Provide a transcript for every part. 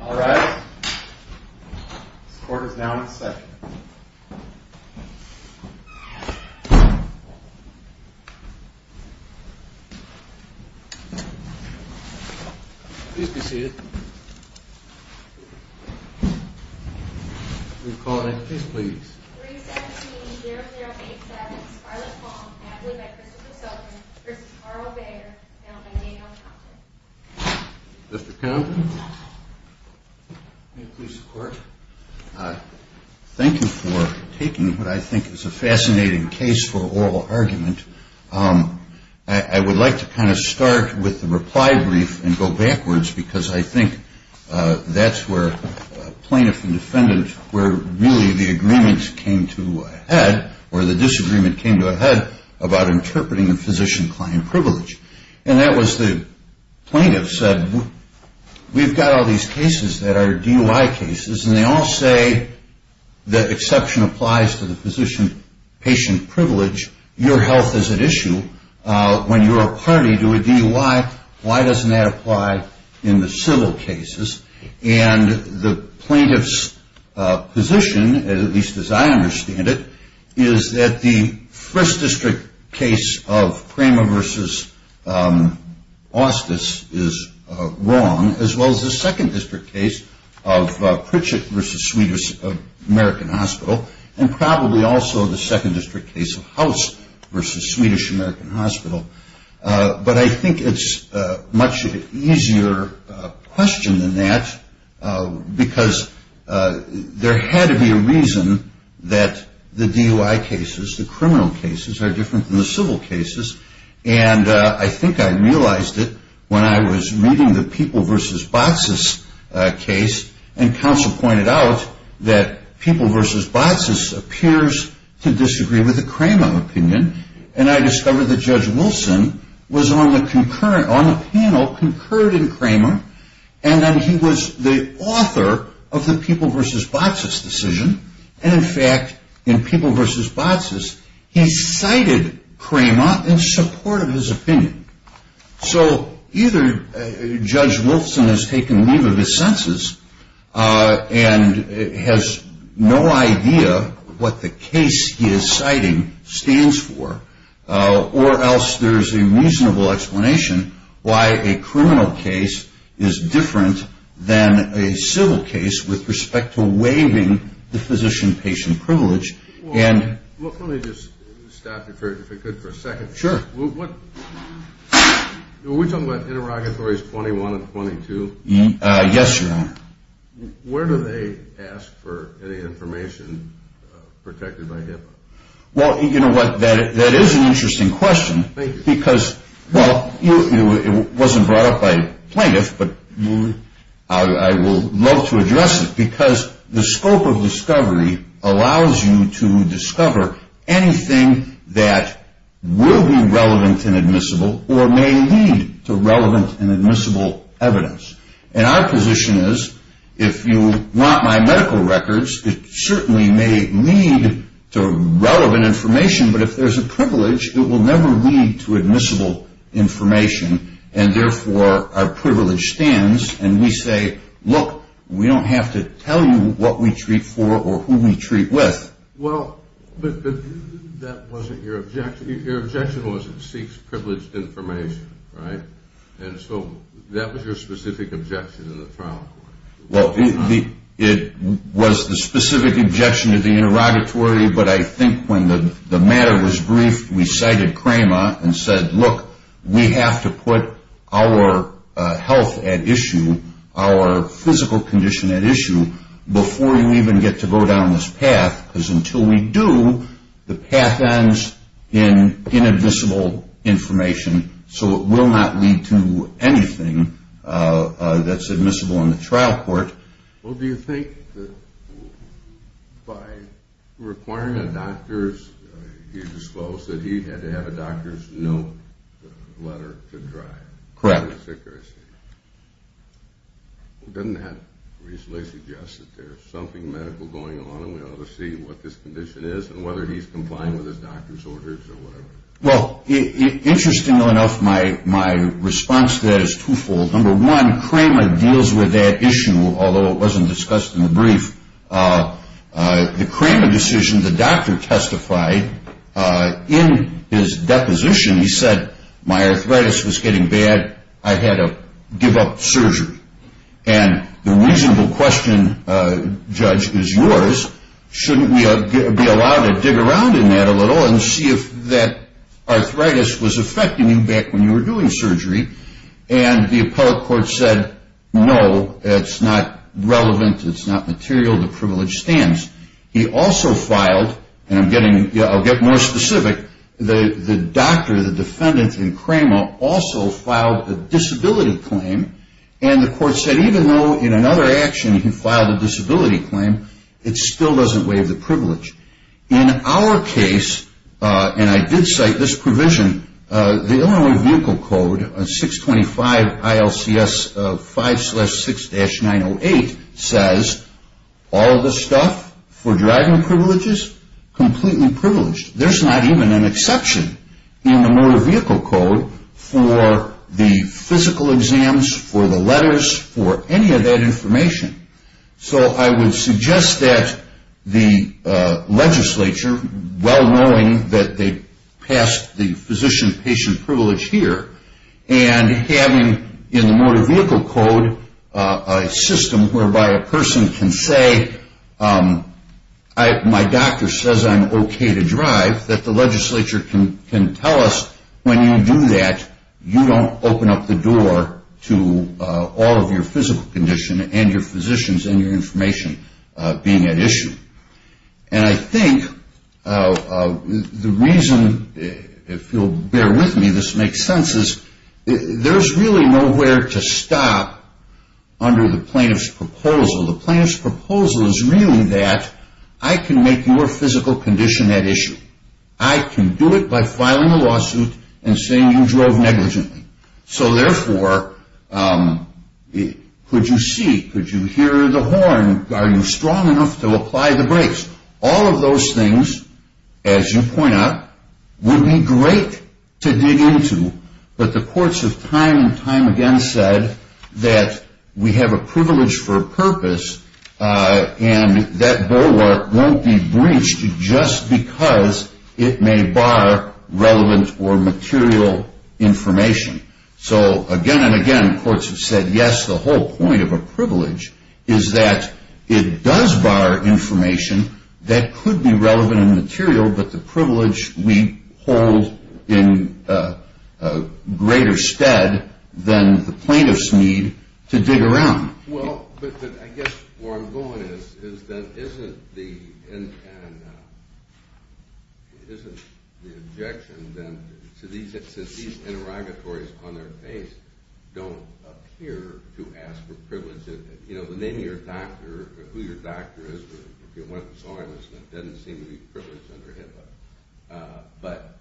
All right, the court is Thank you for taking what I think is a fascinating case for oral argument. I would like to kind of start with the reply brief and go backwards because I think that's where plaintiff and defendant were really the agreements came to head or the disagreement came to a head about interpreting a physician client privilege. And that was the plaintiff said we've got all these cases that are DUI cases and they all say that exception applies to the physician patient privilege. Your health is at issue when you're a party to a DUI. Why doesn't that apply in the civil cases? And the plaintiff's position, at least as I understand it, is that the first district case of Prima v. Austis is wrong as well as the second district case of Pritchett v. Swedish American Hospital and probably also the second district case of House v. Swedish American Hospital. But I think it's a much easier question than that because there had to be a reason that the DUI cases, the criminal cases, are different than the civil cases. And I think I realized it when I was reading the People v. Botsis case and counsel pointed out that People v. Botsis appears to disagree with the Cramer opinion. And I discovered that Judge Wilson was on the panel concurred in Cramer and that he was the author of the People v. Botsis decision. And in fact, in People v. Botsis, he cited Cramer in support of his opinion. So either Judge Wilson has taken leave of his senses and has no idea what the case he is citing stands for or else there is a reasonable explanation why a criminal case is different than a civil case with respect to waiving the physician-patient privilege. Let me just stop you for a second. Sure. Were we talking about Interrogatories 21 and 22? Yes, Your Honor. Where do they ask for any information protected by HIPAA? Well, you know what, that is an interesting question. Thank you. Because, well, it wasn't brought up by plaintiffs, but I would love to address it because the scope of discovery allows you to discover anything that will be relevant and admissible or may lead to relevant and admissible evidence. And our position is if you want my medical records, it certainly may lead to relevant information, but if there is a privilege, it will never lead to admissible information and therefore our privilege stands and we say, look, we don't have to tell you what we treat for or who we treat with. Well, but that wasn't your objection. Your objection was it seeks privileged information, right? And so that was your specific objection in the trial. Well, it was the specific objection to the interrogatory, but I think when the matter was briefed, we cited CREMA and said, look, we have to put our health at issue, our physical condition at issue, before we even get to go down this path. Because until we do, the path ends in inadmissible information, so it will not lead to anything that's admissible in the trial court. Well, do you think that by requiring a doctor's, you disclosed that he had to have a doctor's note letter to drive? Correct. Doesn't that reasonably suggest that there's something medical going on and we ought to see what this condition is and whether he's complying with his doctor's orders or whatever? Well, interestingly enough, my response to that is twofold. Number one, CREMA deals with that issue, although it wasn't discussed in the brief. The CREMA decision, the doctor testified in his deposition, he said, my arthritis was getting bad, I had to give up surgery. And the reasonable question, judge, is yours. Shouldn't we be allowed to dig around in that a little and see if that arthritis was affecting you back when you were doing surgery? And the appellate court said, no, it's not relevant, it's not material, the privilege stands. He also filed, and I'll get more specific, the doctor, the defendant in CREMA also filed a disability claim, and the court said even though in another action he filed a disability claim, it still doesn't waive the privilege. In our case, and I did cite this provision, the Illinois Vehicle Code, 625 ILCS 5-6-908, says all the stuff for driving privileges, completely privileged. There's not even an exception in the Motor Vehicle Code for the physical exams, for the letters, for any of that information. So I would suggest that the legislature, well knowing that they passed the physician-patient privilege here, and having in the Motor Vehicle Code a system whereby a person can say, my doctor says I'm okay to drive, that the legislature can tell us when you do that, you don't open up the door to all of your physical condition and your physicians and your information being at issue. And I think the reason, if you'll bear with me, this makes sense, is there's really nowhere to stop under the plaintiff's proposal. The plaintiff's proposal is really that I can make your physical condition at issue. I can do it by filing a lawsuit and saying you drove negligently. So therefore, could you see, could you hear the horn, are you strong enough to apply the brakes? All of those things, as you point out, would be great to dig into, but the courts have time and time again said that we have a privilege for a purpose and that bulwark won't be breached just because it may bar relevant or material information. So again and again, courts have said yes, the whole point of a privilege is that it does bar information that could be relevant and material, but the privilege we hold in greater stead than the plaintiffs need to dig around. Well, but I guess where I'm going is that isn't the objection then, since these interrogatories on their face don't appear to ask for privilege, you know, the name of your doctor, who your doctor is, if you went and saw him, it doesn't seem to be privileged under HIPAA. But,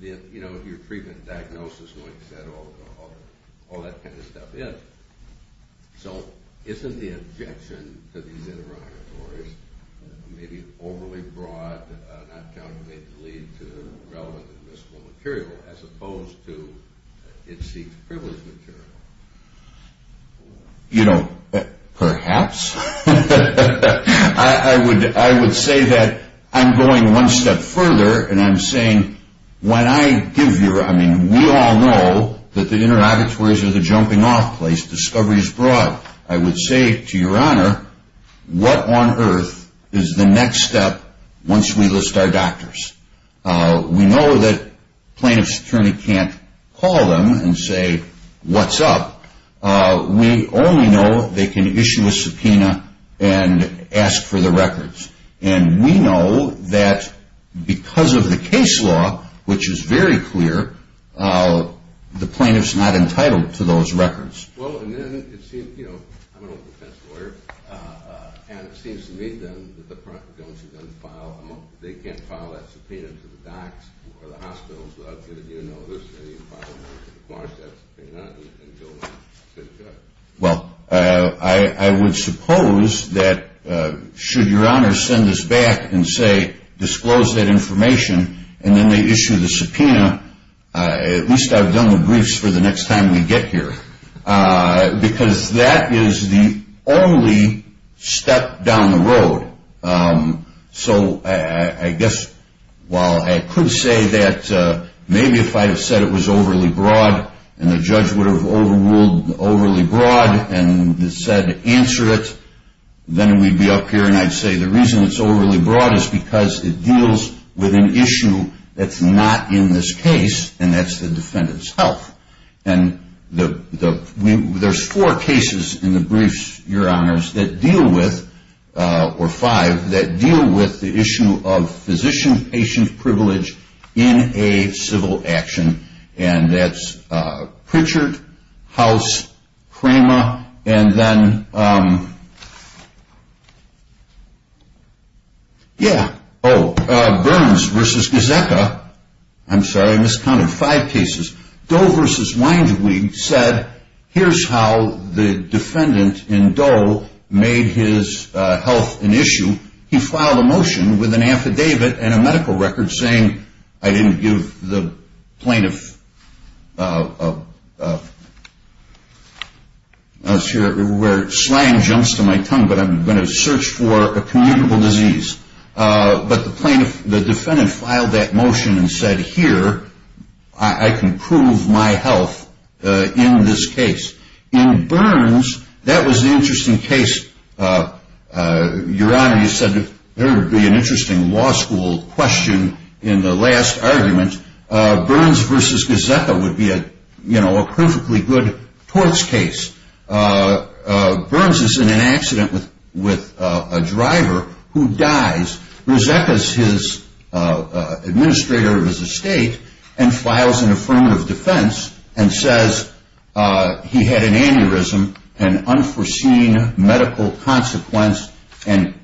you know, your treatment diagnosis when you said all that kind of stuff is. So isn't the objection to these interrogatories maybe overly broad, not counting maybe the lead to relevant and admissible material, as opposed to it seeks privileged material? You know, perhaps. I would say that I'm going one step further and I'm saying when I give your, I mean, we all know that the interrogatories are the jumping off place, discovery is broad. I would say to your honor, what on earth is the next step once we list our doctors? We know that plaintiff's attorney can't call them and say, what's up? We only know they can issue a subpoena and ask for the records. And we know that because of the case law, which is very clear, the plaintiff's not entitled to those records. Well, and then it seems, you know, I'm an old defense lawyer, and it seems to me then that the plaintiff's attorney doesn't file, they can't file that subpoena to the docs or the hospital. So I'd say that you know this, and you file that subpoena. Well, I would suppose that should your honor send us back and say disclose that information, and then they issue the subpoena, at least I've done the briefs for the next time we get here, because that is the only step down the road. So I guess while I could say that maybe if I had said it was overly broad, and the judge would have overruled overly broad and said answer it, then we'd be up here and I'd say the reason it's overly broad is because it deals with an issue that's not in this case, and that's the defendant's health. And there's four cases in the briefs, your honors, that deal with, or five, that deal with the issue of physician-patient privilege in a civil action, and that's Pritchard, House, Cramer, and then, yeah, oh, Burns v. Gazzetta, I'm sorry, I miscounted five cases. Doe v. Winesweep said here's how the defendant in Doe made his health an issue. He filed a motion with an affidavit and a medical record saying I didn't give the plaintiff, where slang jumps to my tongue, but I'm going to search for a communicable disease. But the plaintiff, the defendant filed that motion and said here I can prove my health in this case. In Burns, that was an interesting case, your honor, you said there would be an interesting law school question in the last argument. Burns v. Gazzetta would be a perfectly good torts case. Burns is in an accident with a driver who dies. Gazzetta is his administrator of his estate and files an affirmative defense and says he had an aneurysm, an unforeseen medical consequence, and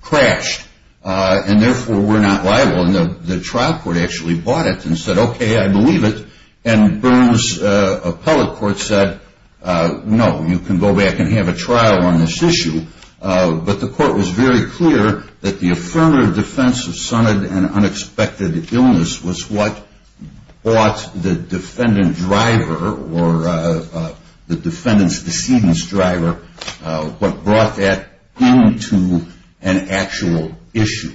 crashed, and therefore we're not liable. And the trial court actually bought it and said, okay, I believe it. And Burns' appellate court said, no, you can go back and have a trial on this issue. But the court was very clear that the affirmative defense of sunnied and unexpected illness was what bought the defendant driver or the defendant's decedent's driver, what brought that into an actual issue.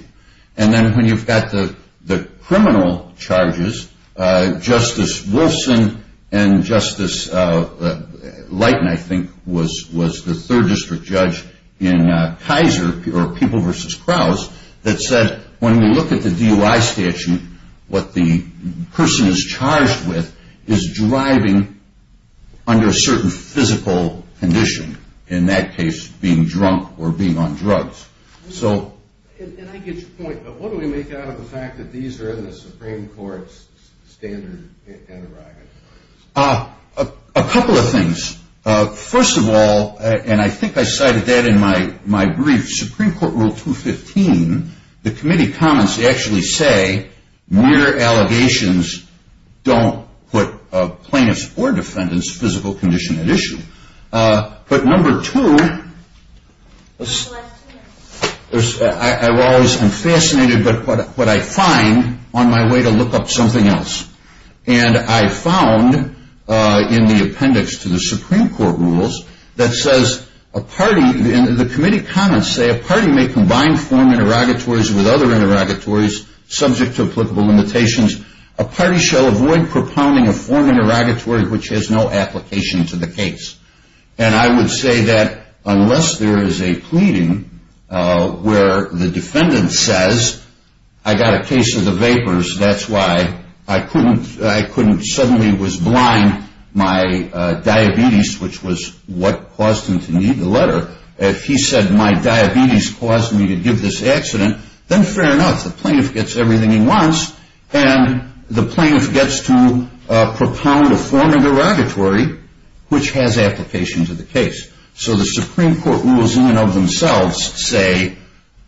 And then when you've got the criminal charges, Justice Wilson and Justice Leighton, I think, was the third district judge in Kaiser, or People v. Krause, that said when we look at the DOI statute, what the person is charged with is driving under a certain physical condition, in that case being drunk or being on drugs. And I get your point, but what do we make out of the fact that these are in the Supreme Court's standard aneurysm? A couple of things. First of all, and I think I cited that in my brief, Supreme Court Rule 215, the committee comments actually say mere allegations don't put a plaintiff's or defendant's physical condition at issue. But number two, I'm fascinated by what I find on my way to look up something else. And I found in the appendix to the Supreme Court rules that says a party, and the committee comments say a party may combine form interrogatories with other interrogatories subject to applicable limitations. A party shall avoid propounding a form interrogatory which has no application to the case. And I would say that unless there is a pleading where the defendant says, I got a case of the vapors, that's why I couldn't suddenly was blind, my diabetes, which was what caused him to need the letter, if he said my diabetes caused me to give this accident, then fair enough. The plaintiff gets everything he wants, and the plaintiff gets to propound a form interrogatory which has application to the case. So the Supreme Court rules in and of themselves say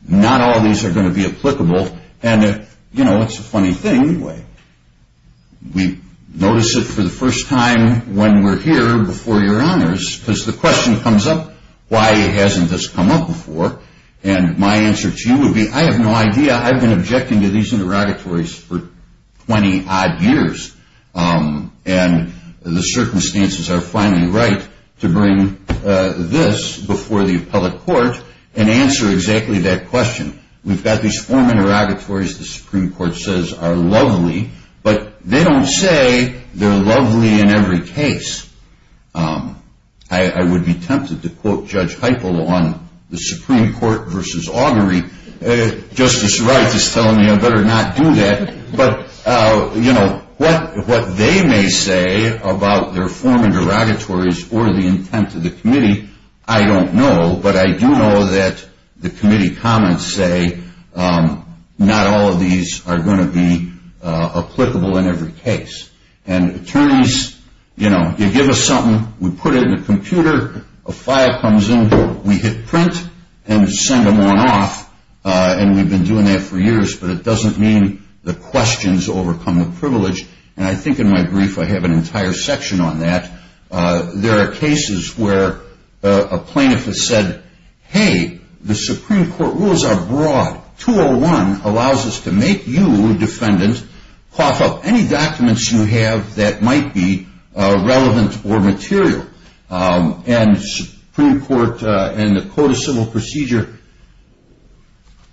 not all of these are going to be applicable. And, you know, it's a funny thing anyway. We notice it for the first time when we're here before your honors, because the question comes up, why hasn't this come up before? And my answer to you would be, I have no idea. I've been objecting to these interrogatories for 20-odd years, and the circumstances are finally right to bring this before the appellate court and answer exactly that question. We've got these form interrogatories the Supreme Court says are lovely, but they don't say they're lovely in every case. I would be tempted to quote Judge Heiple on the Supreme Court versus augury. Justice Wright is telling me I better not do that. But, you know, what they may say about their form interrogatories or the intent of the committee, I don't know. But I do know that the committee comments say not all of these are going to be applicable in every case. And attorneys, you know, you give us something, we put it in a computer, a file comes in, we hit print, and send them on off. And we've been doing that for years, but it doesn't mean the questions overcome the privilege. And I think in my brief I have an entire section on that. There are cases where a plaintiff has said, hey, the Supreme Court rules are broad. 201 allows us to make you, defendant, cough up any documents you have that might be relevant or material. And the Supreme Court in the Code of Civil Procedure,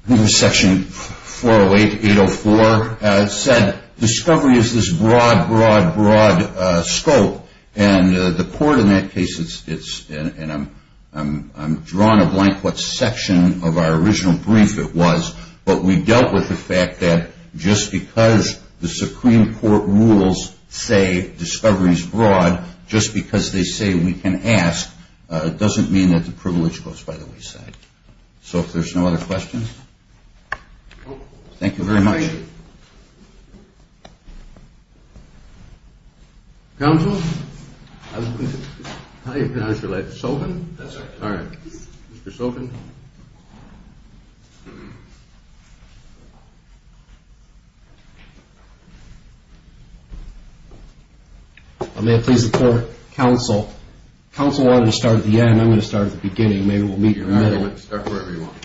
Section 408, 804, said discovery is this broad, broad, broad scope. And the court in that case, and I'm drawing a blank what section of our original brief it was, but we dealt with the fact that just because the Supreme Court rules say discovery is broad, just because they say we can ask doesn't mean that the privilege goes by the wayside. So if there's no other questions. Thank you very much. Any other questions? Counsel? How do you pronounce your name? Sophin? That's right. All right. Mr. Sophin. May I please report, counsel? Counsel wanted to start at the end. I'm going to start at the beginning. Maybe we'll meet in the middle. You're right. Start wherever you want.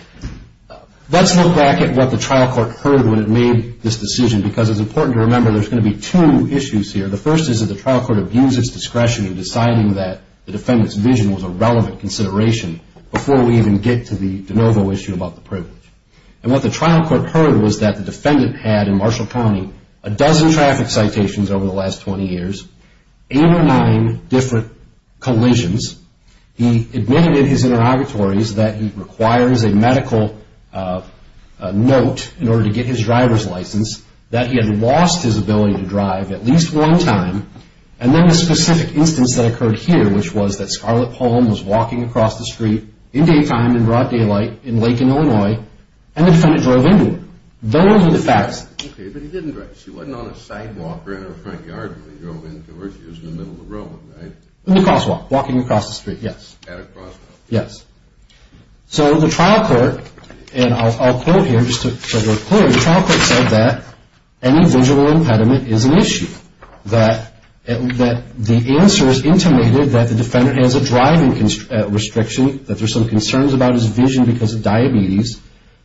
Let's look back at what the trial court heard when it made this decision, because it's important to remember there's going to be two issues here. The first is that the trial court abused its discretion in deciding that the defendant's vision was a relevant consideration before we even get to the de novo issue about the privilege. And what the trial court heard was that the defendant had, in Marshall County, a dozen traffic citations over the last 20 years, eight or nine different collisions. He admitted in his interrogatories that he requires a medical note in order to get his driver's license, that he had lost his ability to drive at least one time. And then the specific instance that occurred here, which was that Scarlett Palm was walking across the street in daytime, in broad daylight, in Lake and Illinois, and the defendant drove into her. Okay, but he didn't drive. She wasn't on a sidewalk or in her front yard when he drove into her. She was in the middle of the road, right? In the crosswalk, walking across the street, yes. At a crosswalk. Yes. So the trial court, and I'll quote here just to make it clear, the trial court said that any visual impediment is an issue, that the answer is intimated that the defendant has a driving restriction, that there's some concerns about his vision because of diabetes,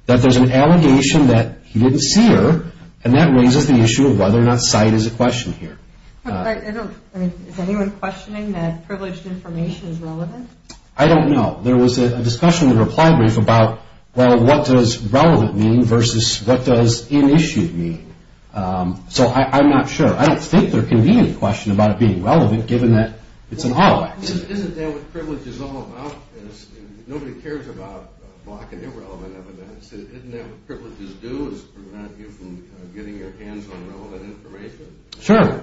that there's an allegation that he didn't see her, and that raises the issue of whether or not sight is a question here. I don't, I mean, is anyone questioning that privileged information is relevant? I don't know. There was a discussion in the reply brief about, well, what does relevant mean versus what does unissued mean? So I'm not sure. I don't think there can be any question about it being relevant given that it's an auto accident. Isn't that what privilege is all about? Nobody cares about blocking irrelevant evidence. Isn't that what privileges do is prevent you from getting your hands on relevant information? Sure.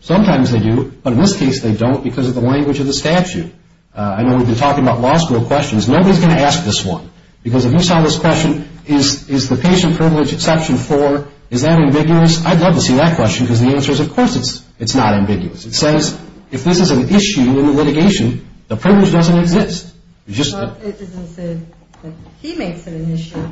Sometimes they do, but in this case they don't because of the language of the statute. I know we've been talking about law school questions. Nobody's going to ask this one because if you saw this question, is the patient privilege exception four, is that ambiguous? I'd love to see that question because the answer is, of course, it's not ambiguous. It says if this is an issue in the litigation, the privilege doesn't exist. It doesn't say that he makes it an issue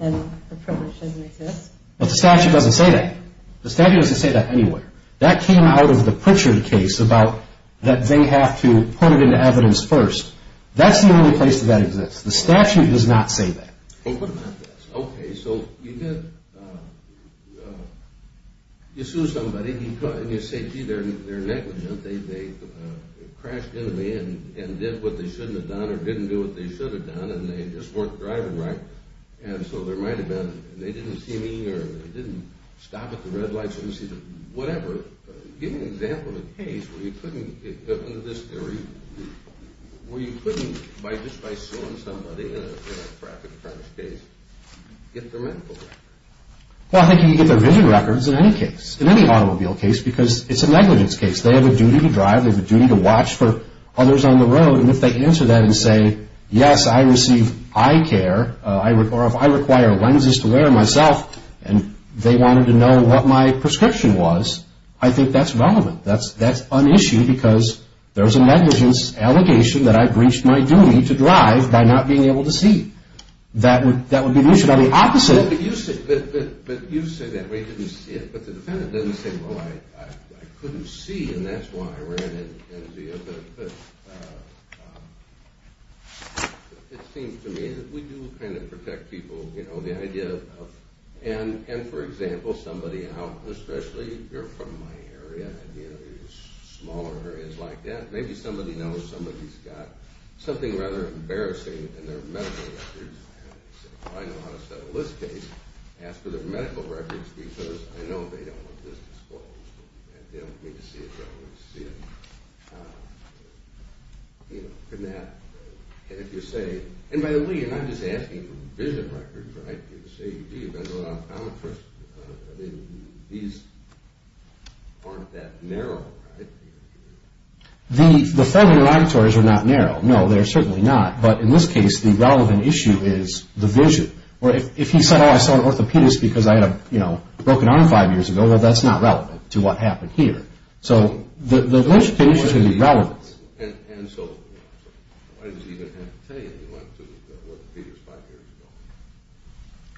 and the privilege doesn't exist. But the statute doesn't say that. The statute doesn't say that anywhere. That came out of the Pritchard case about that they have to put it into evidence first. That's the only place that that exists. The statute does not say that. Well, what about this? Okay, so you sue somebody and you say, gee, they're negligent. They crashed into me and did what they shouldn't have done or didn't do what they should have done and they just weren't driving right, and so there might have been they didn't see me or they didn't stop at the red lights or see the whatever. Give me an example of a case where you couldn't, under this theory, where you couldn't just by suing somebody in a traffic offense case get their medical records. Well, I think you can get their vision records in any case, in any automobile case, because it's a negligence case. They have a duty to drive. They have a duty to watch for others on the road. And if they answer that and say, yes, I receive eye care or if I require lenses to wear myself and they wanted to know what my prescription was, I think that's relevant. That's an issue because there's a negligence allegation that I breached my duty to drive by not being able to see. That would be an issue. Now, the opposite. But you say that we didn't see it. But the defendant didn't say, well, I couldn't see, and that's why I ran in. But it seems to me that we do kind of protect people. You know, the idea of and, for example, somebody out, especially you're from my area, and, you know, smaller areas like that, maybe somebody knows somebody's got something rather embarrassing in their medical records. I know how to settle this case. Ask for their medical records because I know they don't want this disclosed. They don't need to see it. They don't need to see it. You know, couldn't have. And if you say, and by the way, you're not just asking for vision records, right? You're saying, gee, I'm a person. I mean, these aren't that narrow, right? The federal interrogatories are not narrow. No, they're certainly not. But in this case, the relevant issue is the vision. Or if he said, oh, I saw an orthopedist because I had a, you know, broken arm five years ago, well, that's not relevant to what happened here. So the legitimate issue is going to be relevance. And so why does he even have to tell you he went to the orthopedist five years ago?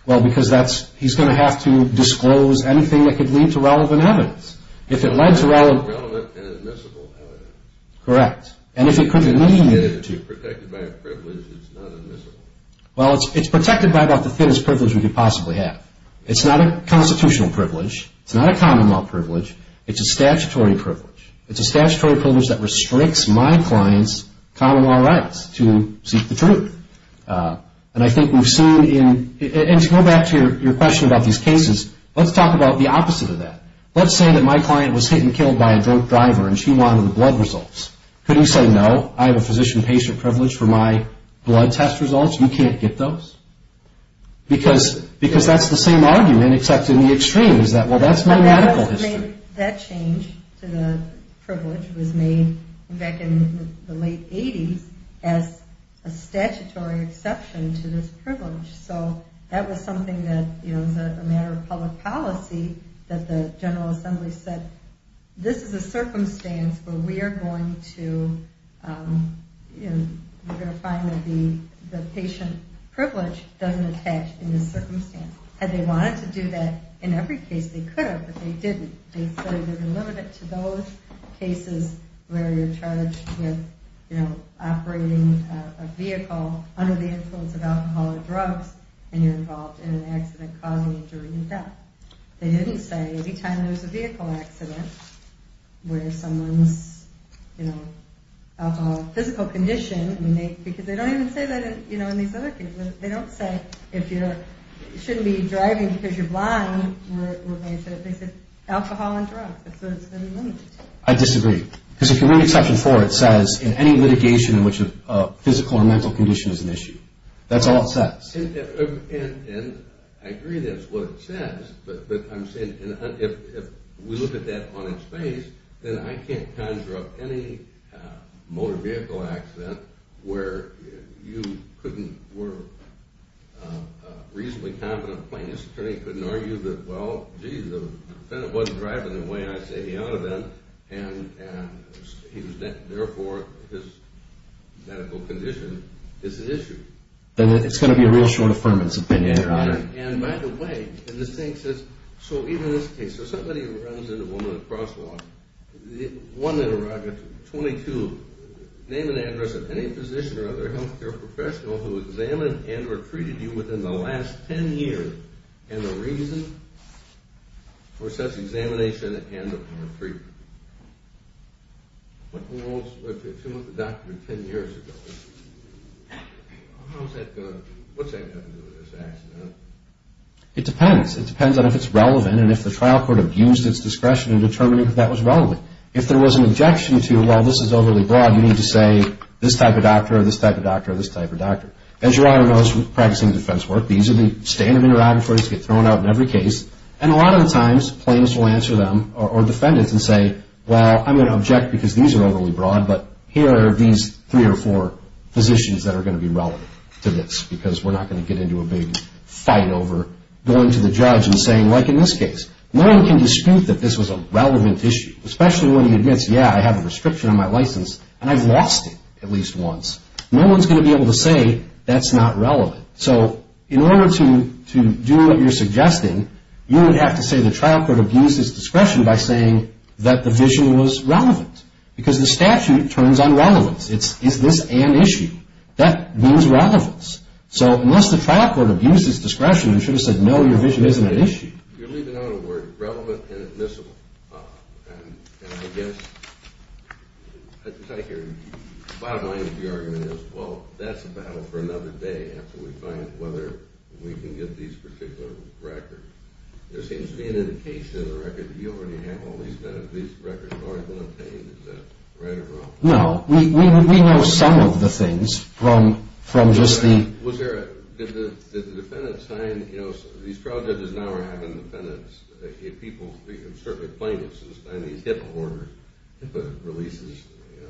Well, because that's, he's going to have to disclose anything that could lead to relevant evidence. If it led to relevant. Relevant and admissible evidence. Correct. If it led to protected by a privilege, it's not admissible. Well, it's protected by about the thinnest privilege we could possibly have. It's not a constitutional privilege. It's not a common law privilege. It's a statutory privilege. It's a statutory privilege that restricts my client's common law rights to seek the truth. And I think we've seen in, and to go back to your question about these cases, let's talk about the opposite of that. Let's say that my client was hit and killed by a drunk driver and she wanted blood results. Couldn't you say, no, I have a physician-patient privilege for my blood test results. You can't get those. Because that's the same argument, except in the extreme. Well, that's my medical history. That change to the privilege was made back in the late 80s as a statutory exception to this privilege. So that was something that was a matter of public policy that the General Assembly said, this is a circumstance where we are going to find that the patient privilege doesn't attach in this circumstance. Had they wanted to do that in every case, they could have, but they didn't. They said they're limited to those cases where you're charged with operating a vehicle under the influence of alcohol or drugs and you're involved in an accident causing injury and death. They didn't say any time there's a vehicle accident where someone's, you know, alcohol or physical condition, because they don't even say that in these other cases. They don't say you shouldn't be driving because you're blind. They said alcohol and drugs. That's what it's going to be limited to. I disagree. Because if you read Exception 4, it says in any litigation in which a physical or mental condition is an issue. That's all it says. And I agree that's what it says, but I'm saying if we look at that on its face, then I can't conjure up any motor vehicle accident where you couldn't, where a reasonably competent plaintiff's attorney couldn't argue that, well, gee, the defendant wasn't driving the way I said he ought to have been, and therefore his medical condition is an issue. Then it's going to be a real short affirmative opinion, Your Honor. And by the way, in this case, if somebody runs into a woman at a crosswalk, one in a row, 22, name and address of any physician or other health care professional who examined and recruited you within the last 10 years and the reason for such examination and recruitment. If you went to the doctor 10 years ago, what's that going to do to this accident? It depends. It depends on if it's relevant and if the trial court abused its discretion in determining if that was relevant. If there was an objection to, well, this is overly broad, you need to say this type of doctor or this type of doctor or this type of doctor. As Your Honor knows from practicing defense work, these are the standard interrogatories that get thrown out in every case. And a lot of the times plaintiffs will answer them or defendants and say, well, I'm going to object because these are overly broad, but here are these three or four physicians that are going to be relevant to this because we're not going to get into a big fight over going to the judge and saying, like in this case. No one can dispute that this was a relevant issue, especially when he admits, yeah, I have a restriction on my license and I've lost it at least once. No one's going to be able to say that's not relevant. So in order to do what you're suggesting, you would have to say the trial court abused its discretion by saying that the vision was relevant because the statute turns on relevance. It's is this an issue? That means relevance. So unless the trial court abused its discretion, you should have said, no, your vision isn't an issue. You're leaving out a word, relevant and admissible. And I guess at the bottom line of the argument is, well, that's a battle for another day after we find whether we can get these particular records. There seems to be an indication in the record that you already have all these records. These records already been obtained. Is that right or wrong? No, we know some of the things from just the Was there a, did the defendant sign, you know, these trial judges now are having defendants. If people, certainly plaintiffs, sign these HIPAA order, HIPAA releases, you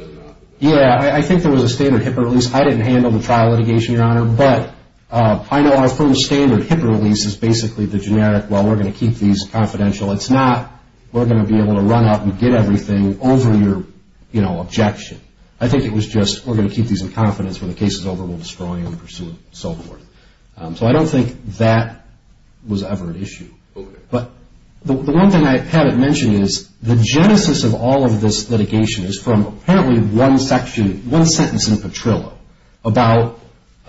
know. Yeah, I think there was a standard HIPAA release. I didn't handle the trial litigation, Your Honor, but I know our firm's standard HIPAA release is basically the generic, well, we're going to keep these confidential. It's not, we're going to be able to run up and get everything over your, you know, objection. I think it was just, we're going to keep these in confidence. When the case is over, we'll destroy them and pursue them and so forth. So I don't think that was ever an issue. Okay. But the one thing I haven't mentioned is the genesis of all of this litigation is from apparently one section, one sentence in Petrillo about,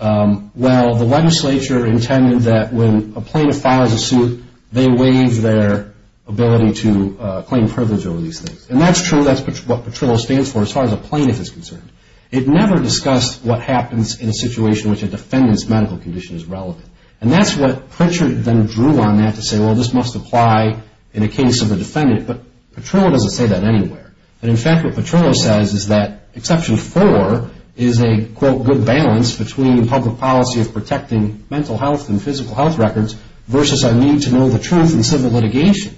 well, the legislature intended that when a plaintiff files a suit, they waive their ability to claim privilege over these things. And that's true, that's what Petrillo stands for as far as a plaintiff is concerned. It never discussed what happens in a situation which a defendant's medical condition is relevant. And that's what Pritchard then drew on that to say, well, this must apply in a case of a defendant. But Petrillo doesn't say that anywhere. And, in fact, what Petrillo says is that Exception 4 is a, quote, good balance between public policy of protecting mental health and physical health records versus our need to know the truth in civil litigation.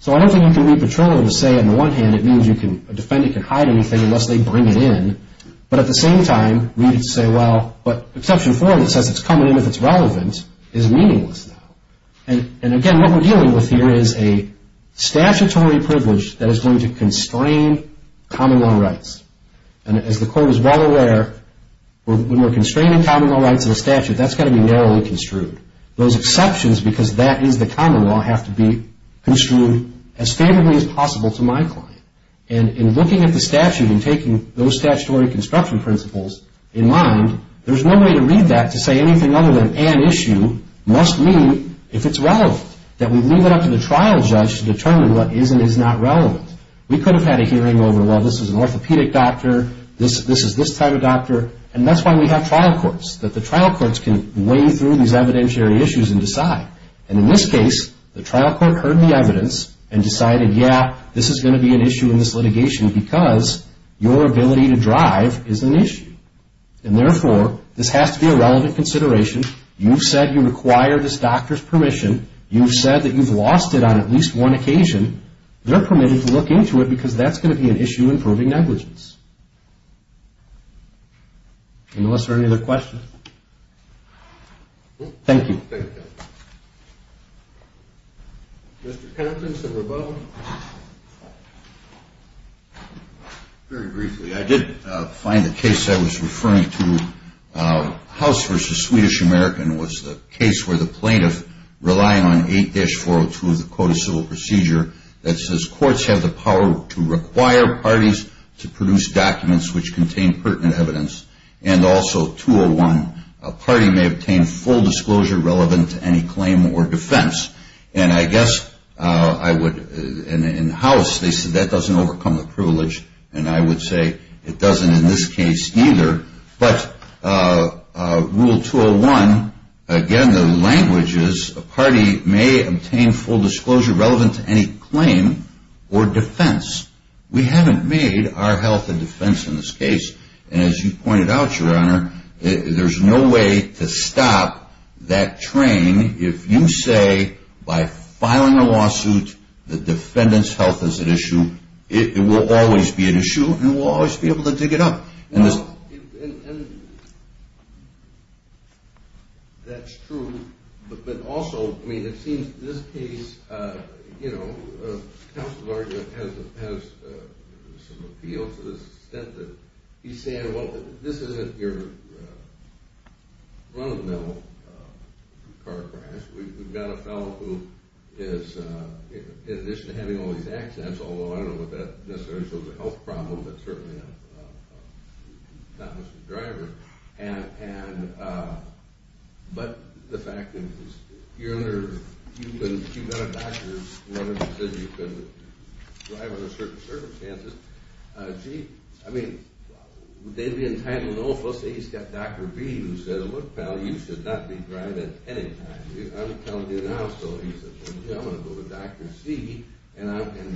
So I don't think you can read Petrillo to say, on the one hand, it means a defendant can hide anything unless they bring it in. But at the same time, we need to say, well, but Exception 4, that says it's coming in if it's relevant, is meaningless now. And, again, what we're dealing with here is a statutory privilege that is going to constrain common law rights. And as the Court is well aware, when we're constraining common law rights in a statute, that's got to be narrowly construed. Those exceptions, because that is the common law, have to be construed as favorably as possible to my client. And in looking at the statute and taking those statutory construction principles in mind, there's no way to read that to say anything other than an issue must mean if it's relevant, that we leave it up to the trial judge to determine what is and is not relevant. We could have had a hearing over, well, this is an orthopedic doctor, this is this type of doctor, and that's why we have trial courts, that the trial courts can weigh through these evidentiary issues and decide. And in this case, the trial court heard the evidence and decided, yeah, this is going to be an issue in this litigation because your ability to drive is an issue. And therefore, this has to be a relevant consideration. You've said you require this doctor's permission. You've said that you've lost it on at least one occasion. They're permitted to look into it because that's going to be an issue in proving negligence. Any other questions? Thank you. Thank you. Mr. Kempton, some rebuttals? Very briefly. I did find the case I was referring to, House v. Swedish American, was the case where the plaintiff, relying on 8-402 of the Code of Civil Procedure, that says courts have the power to require parties to produce documents which contain pertinent evidence. And also 201, a party may obtain full disclosure relevant to any claim or defense. And I guess I would, in House, they said that doesn't overcome the privilege. And I would say it doesn't in this case either. But Rule 201, again, the language is a party may obtain full disclosure relevant to any claim or defense. We haven't made our health a defense in this case. And as you pointed out, Your Honor, there's no way to stop that train. If you say by filing a lawsuit the defendant's health is an issue, it will always be an issue. You will always be able to dig it up. And that's true. But also, I mean, it seems in this case, you know, the counsel's argument has some appeal to the extent that he's saying, well, this isn't your run-of-the-mill car crash. We've got a fellow who is, in addition to having all these accidents, although I don't know if that necessarily shows a health problem, but certainly not much of a driver. But the fact is, Your Honor, you've got a doctor who says you couldn't drive under certain circumstances. Gee, I mean, they'd be entitled, oh, let's say he's got Dr. B who said, look, pal, you should not be driving at any time. I'm telling you now. So he says, well, gee, I'm going to go to Dr. C. And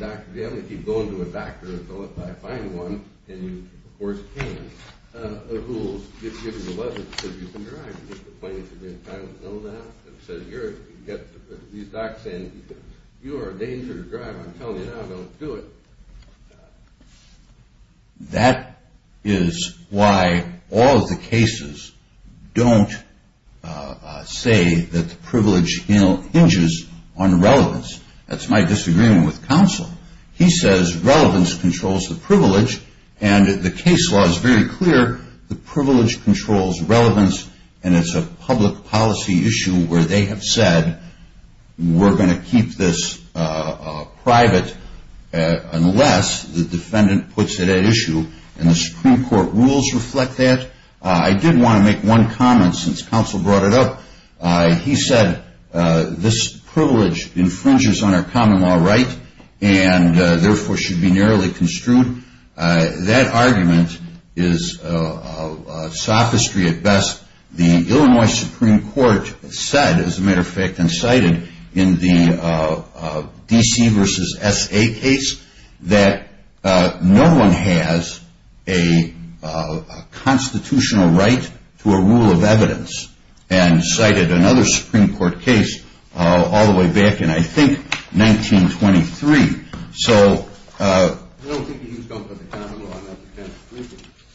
Dr. B, I'm going to keep going to a doctor until I find one. And, of course, Cain, who will give you a letter that says you can drive. And he's complaining that you've been entitled to know that. And he says, you've got these docs saying you are a danger to drive. I'm telling you now, don't do it. That is why all of the cases don't say that the privilege hinges on relevance. That's my disagreement with counsel. He says relevance controls the privilege. And the case law is very clear. The privilege controls relevance. And it's a public policy issue where they have said we're going to keep this private unless the defendant puts it at issue. And the Supreme Court rules reflect that. I did want to make one comment since counsel brought it up. He said this privilege infringes on our common law right and, therefore, should be narrowly construed. That argument is sophistry at best. The Illinois Supreme Court said, as a matter of fact, and cited in the D.C. versus S.A. case that no one has a constitutional right to a rule of evidence. And cited another Supreme Court case all the way back in, I think, 1923. So,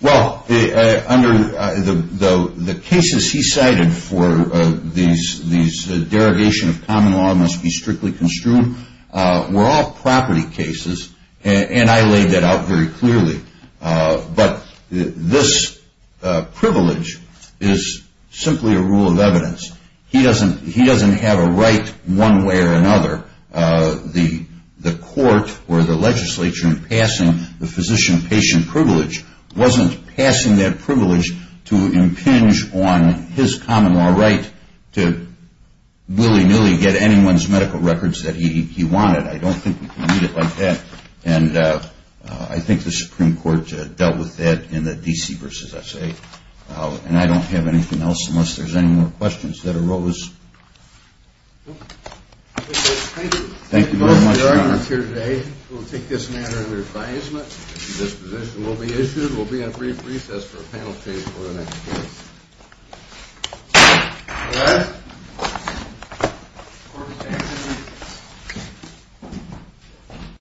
well, under the cases he cited for these derogation of common law must be strictly construed were all property cases. And I laid that out very clearly. But this privilege is simply a rule of evidence. He doesn't have a right one way or another. The court or the legislature in passing the physician-patient privilege wasn't passing that privilege to impinge on his common law right to willy-nilly get anyone's medical records that he wanted. I don't think you can read it like that. And I think the Supreme Court dealt with that in the D.C. versus S.A. And I don't have anything else unless there's any more questions that arose. Thank you very much, Your Honor. We'll take this matter under advisement. This position will be issued. We'll be in a brief recess for a panel of cases.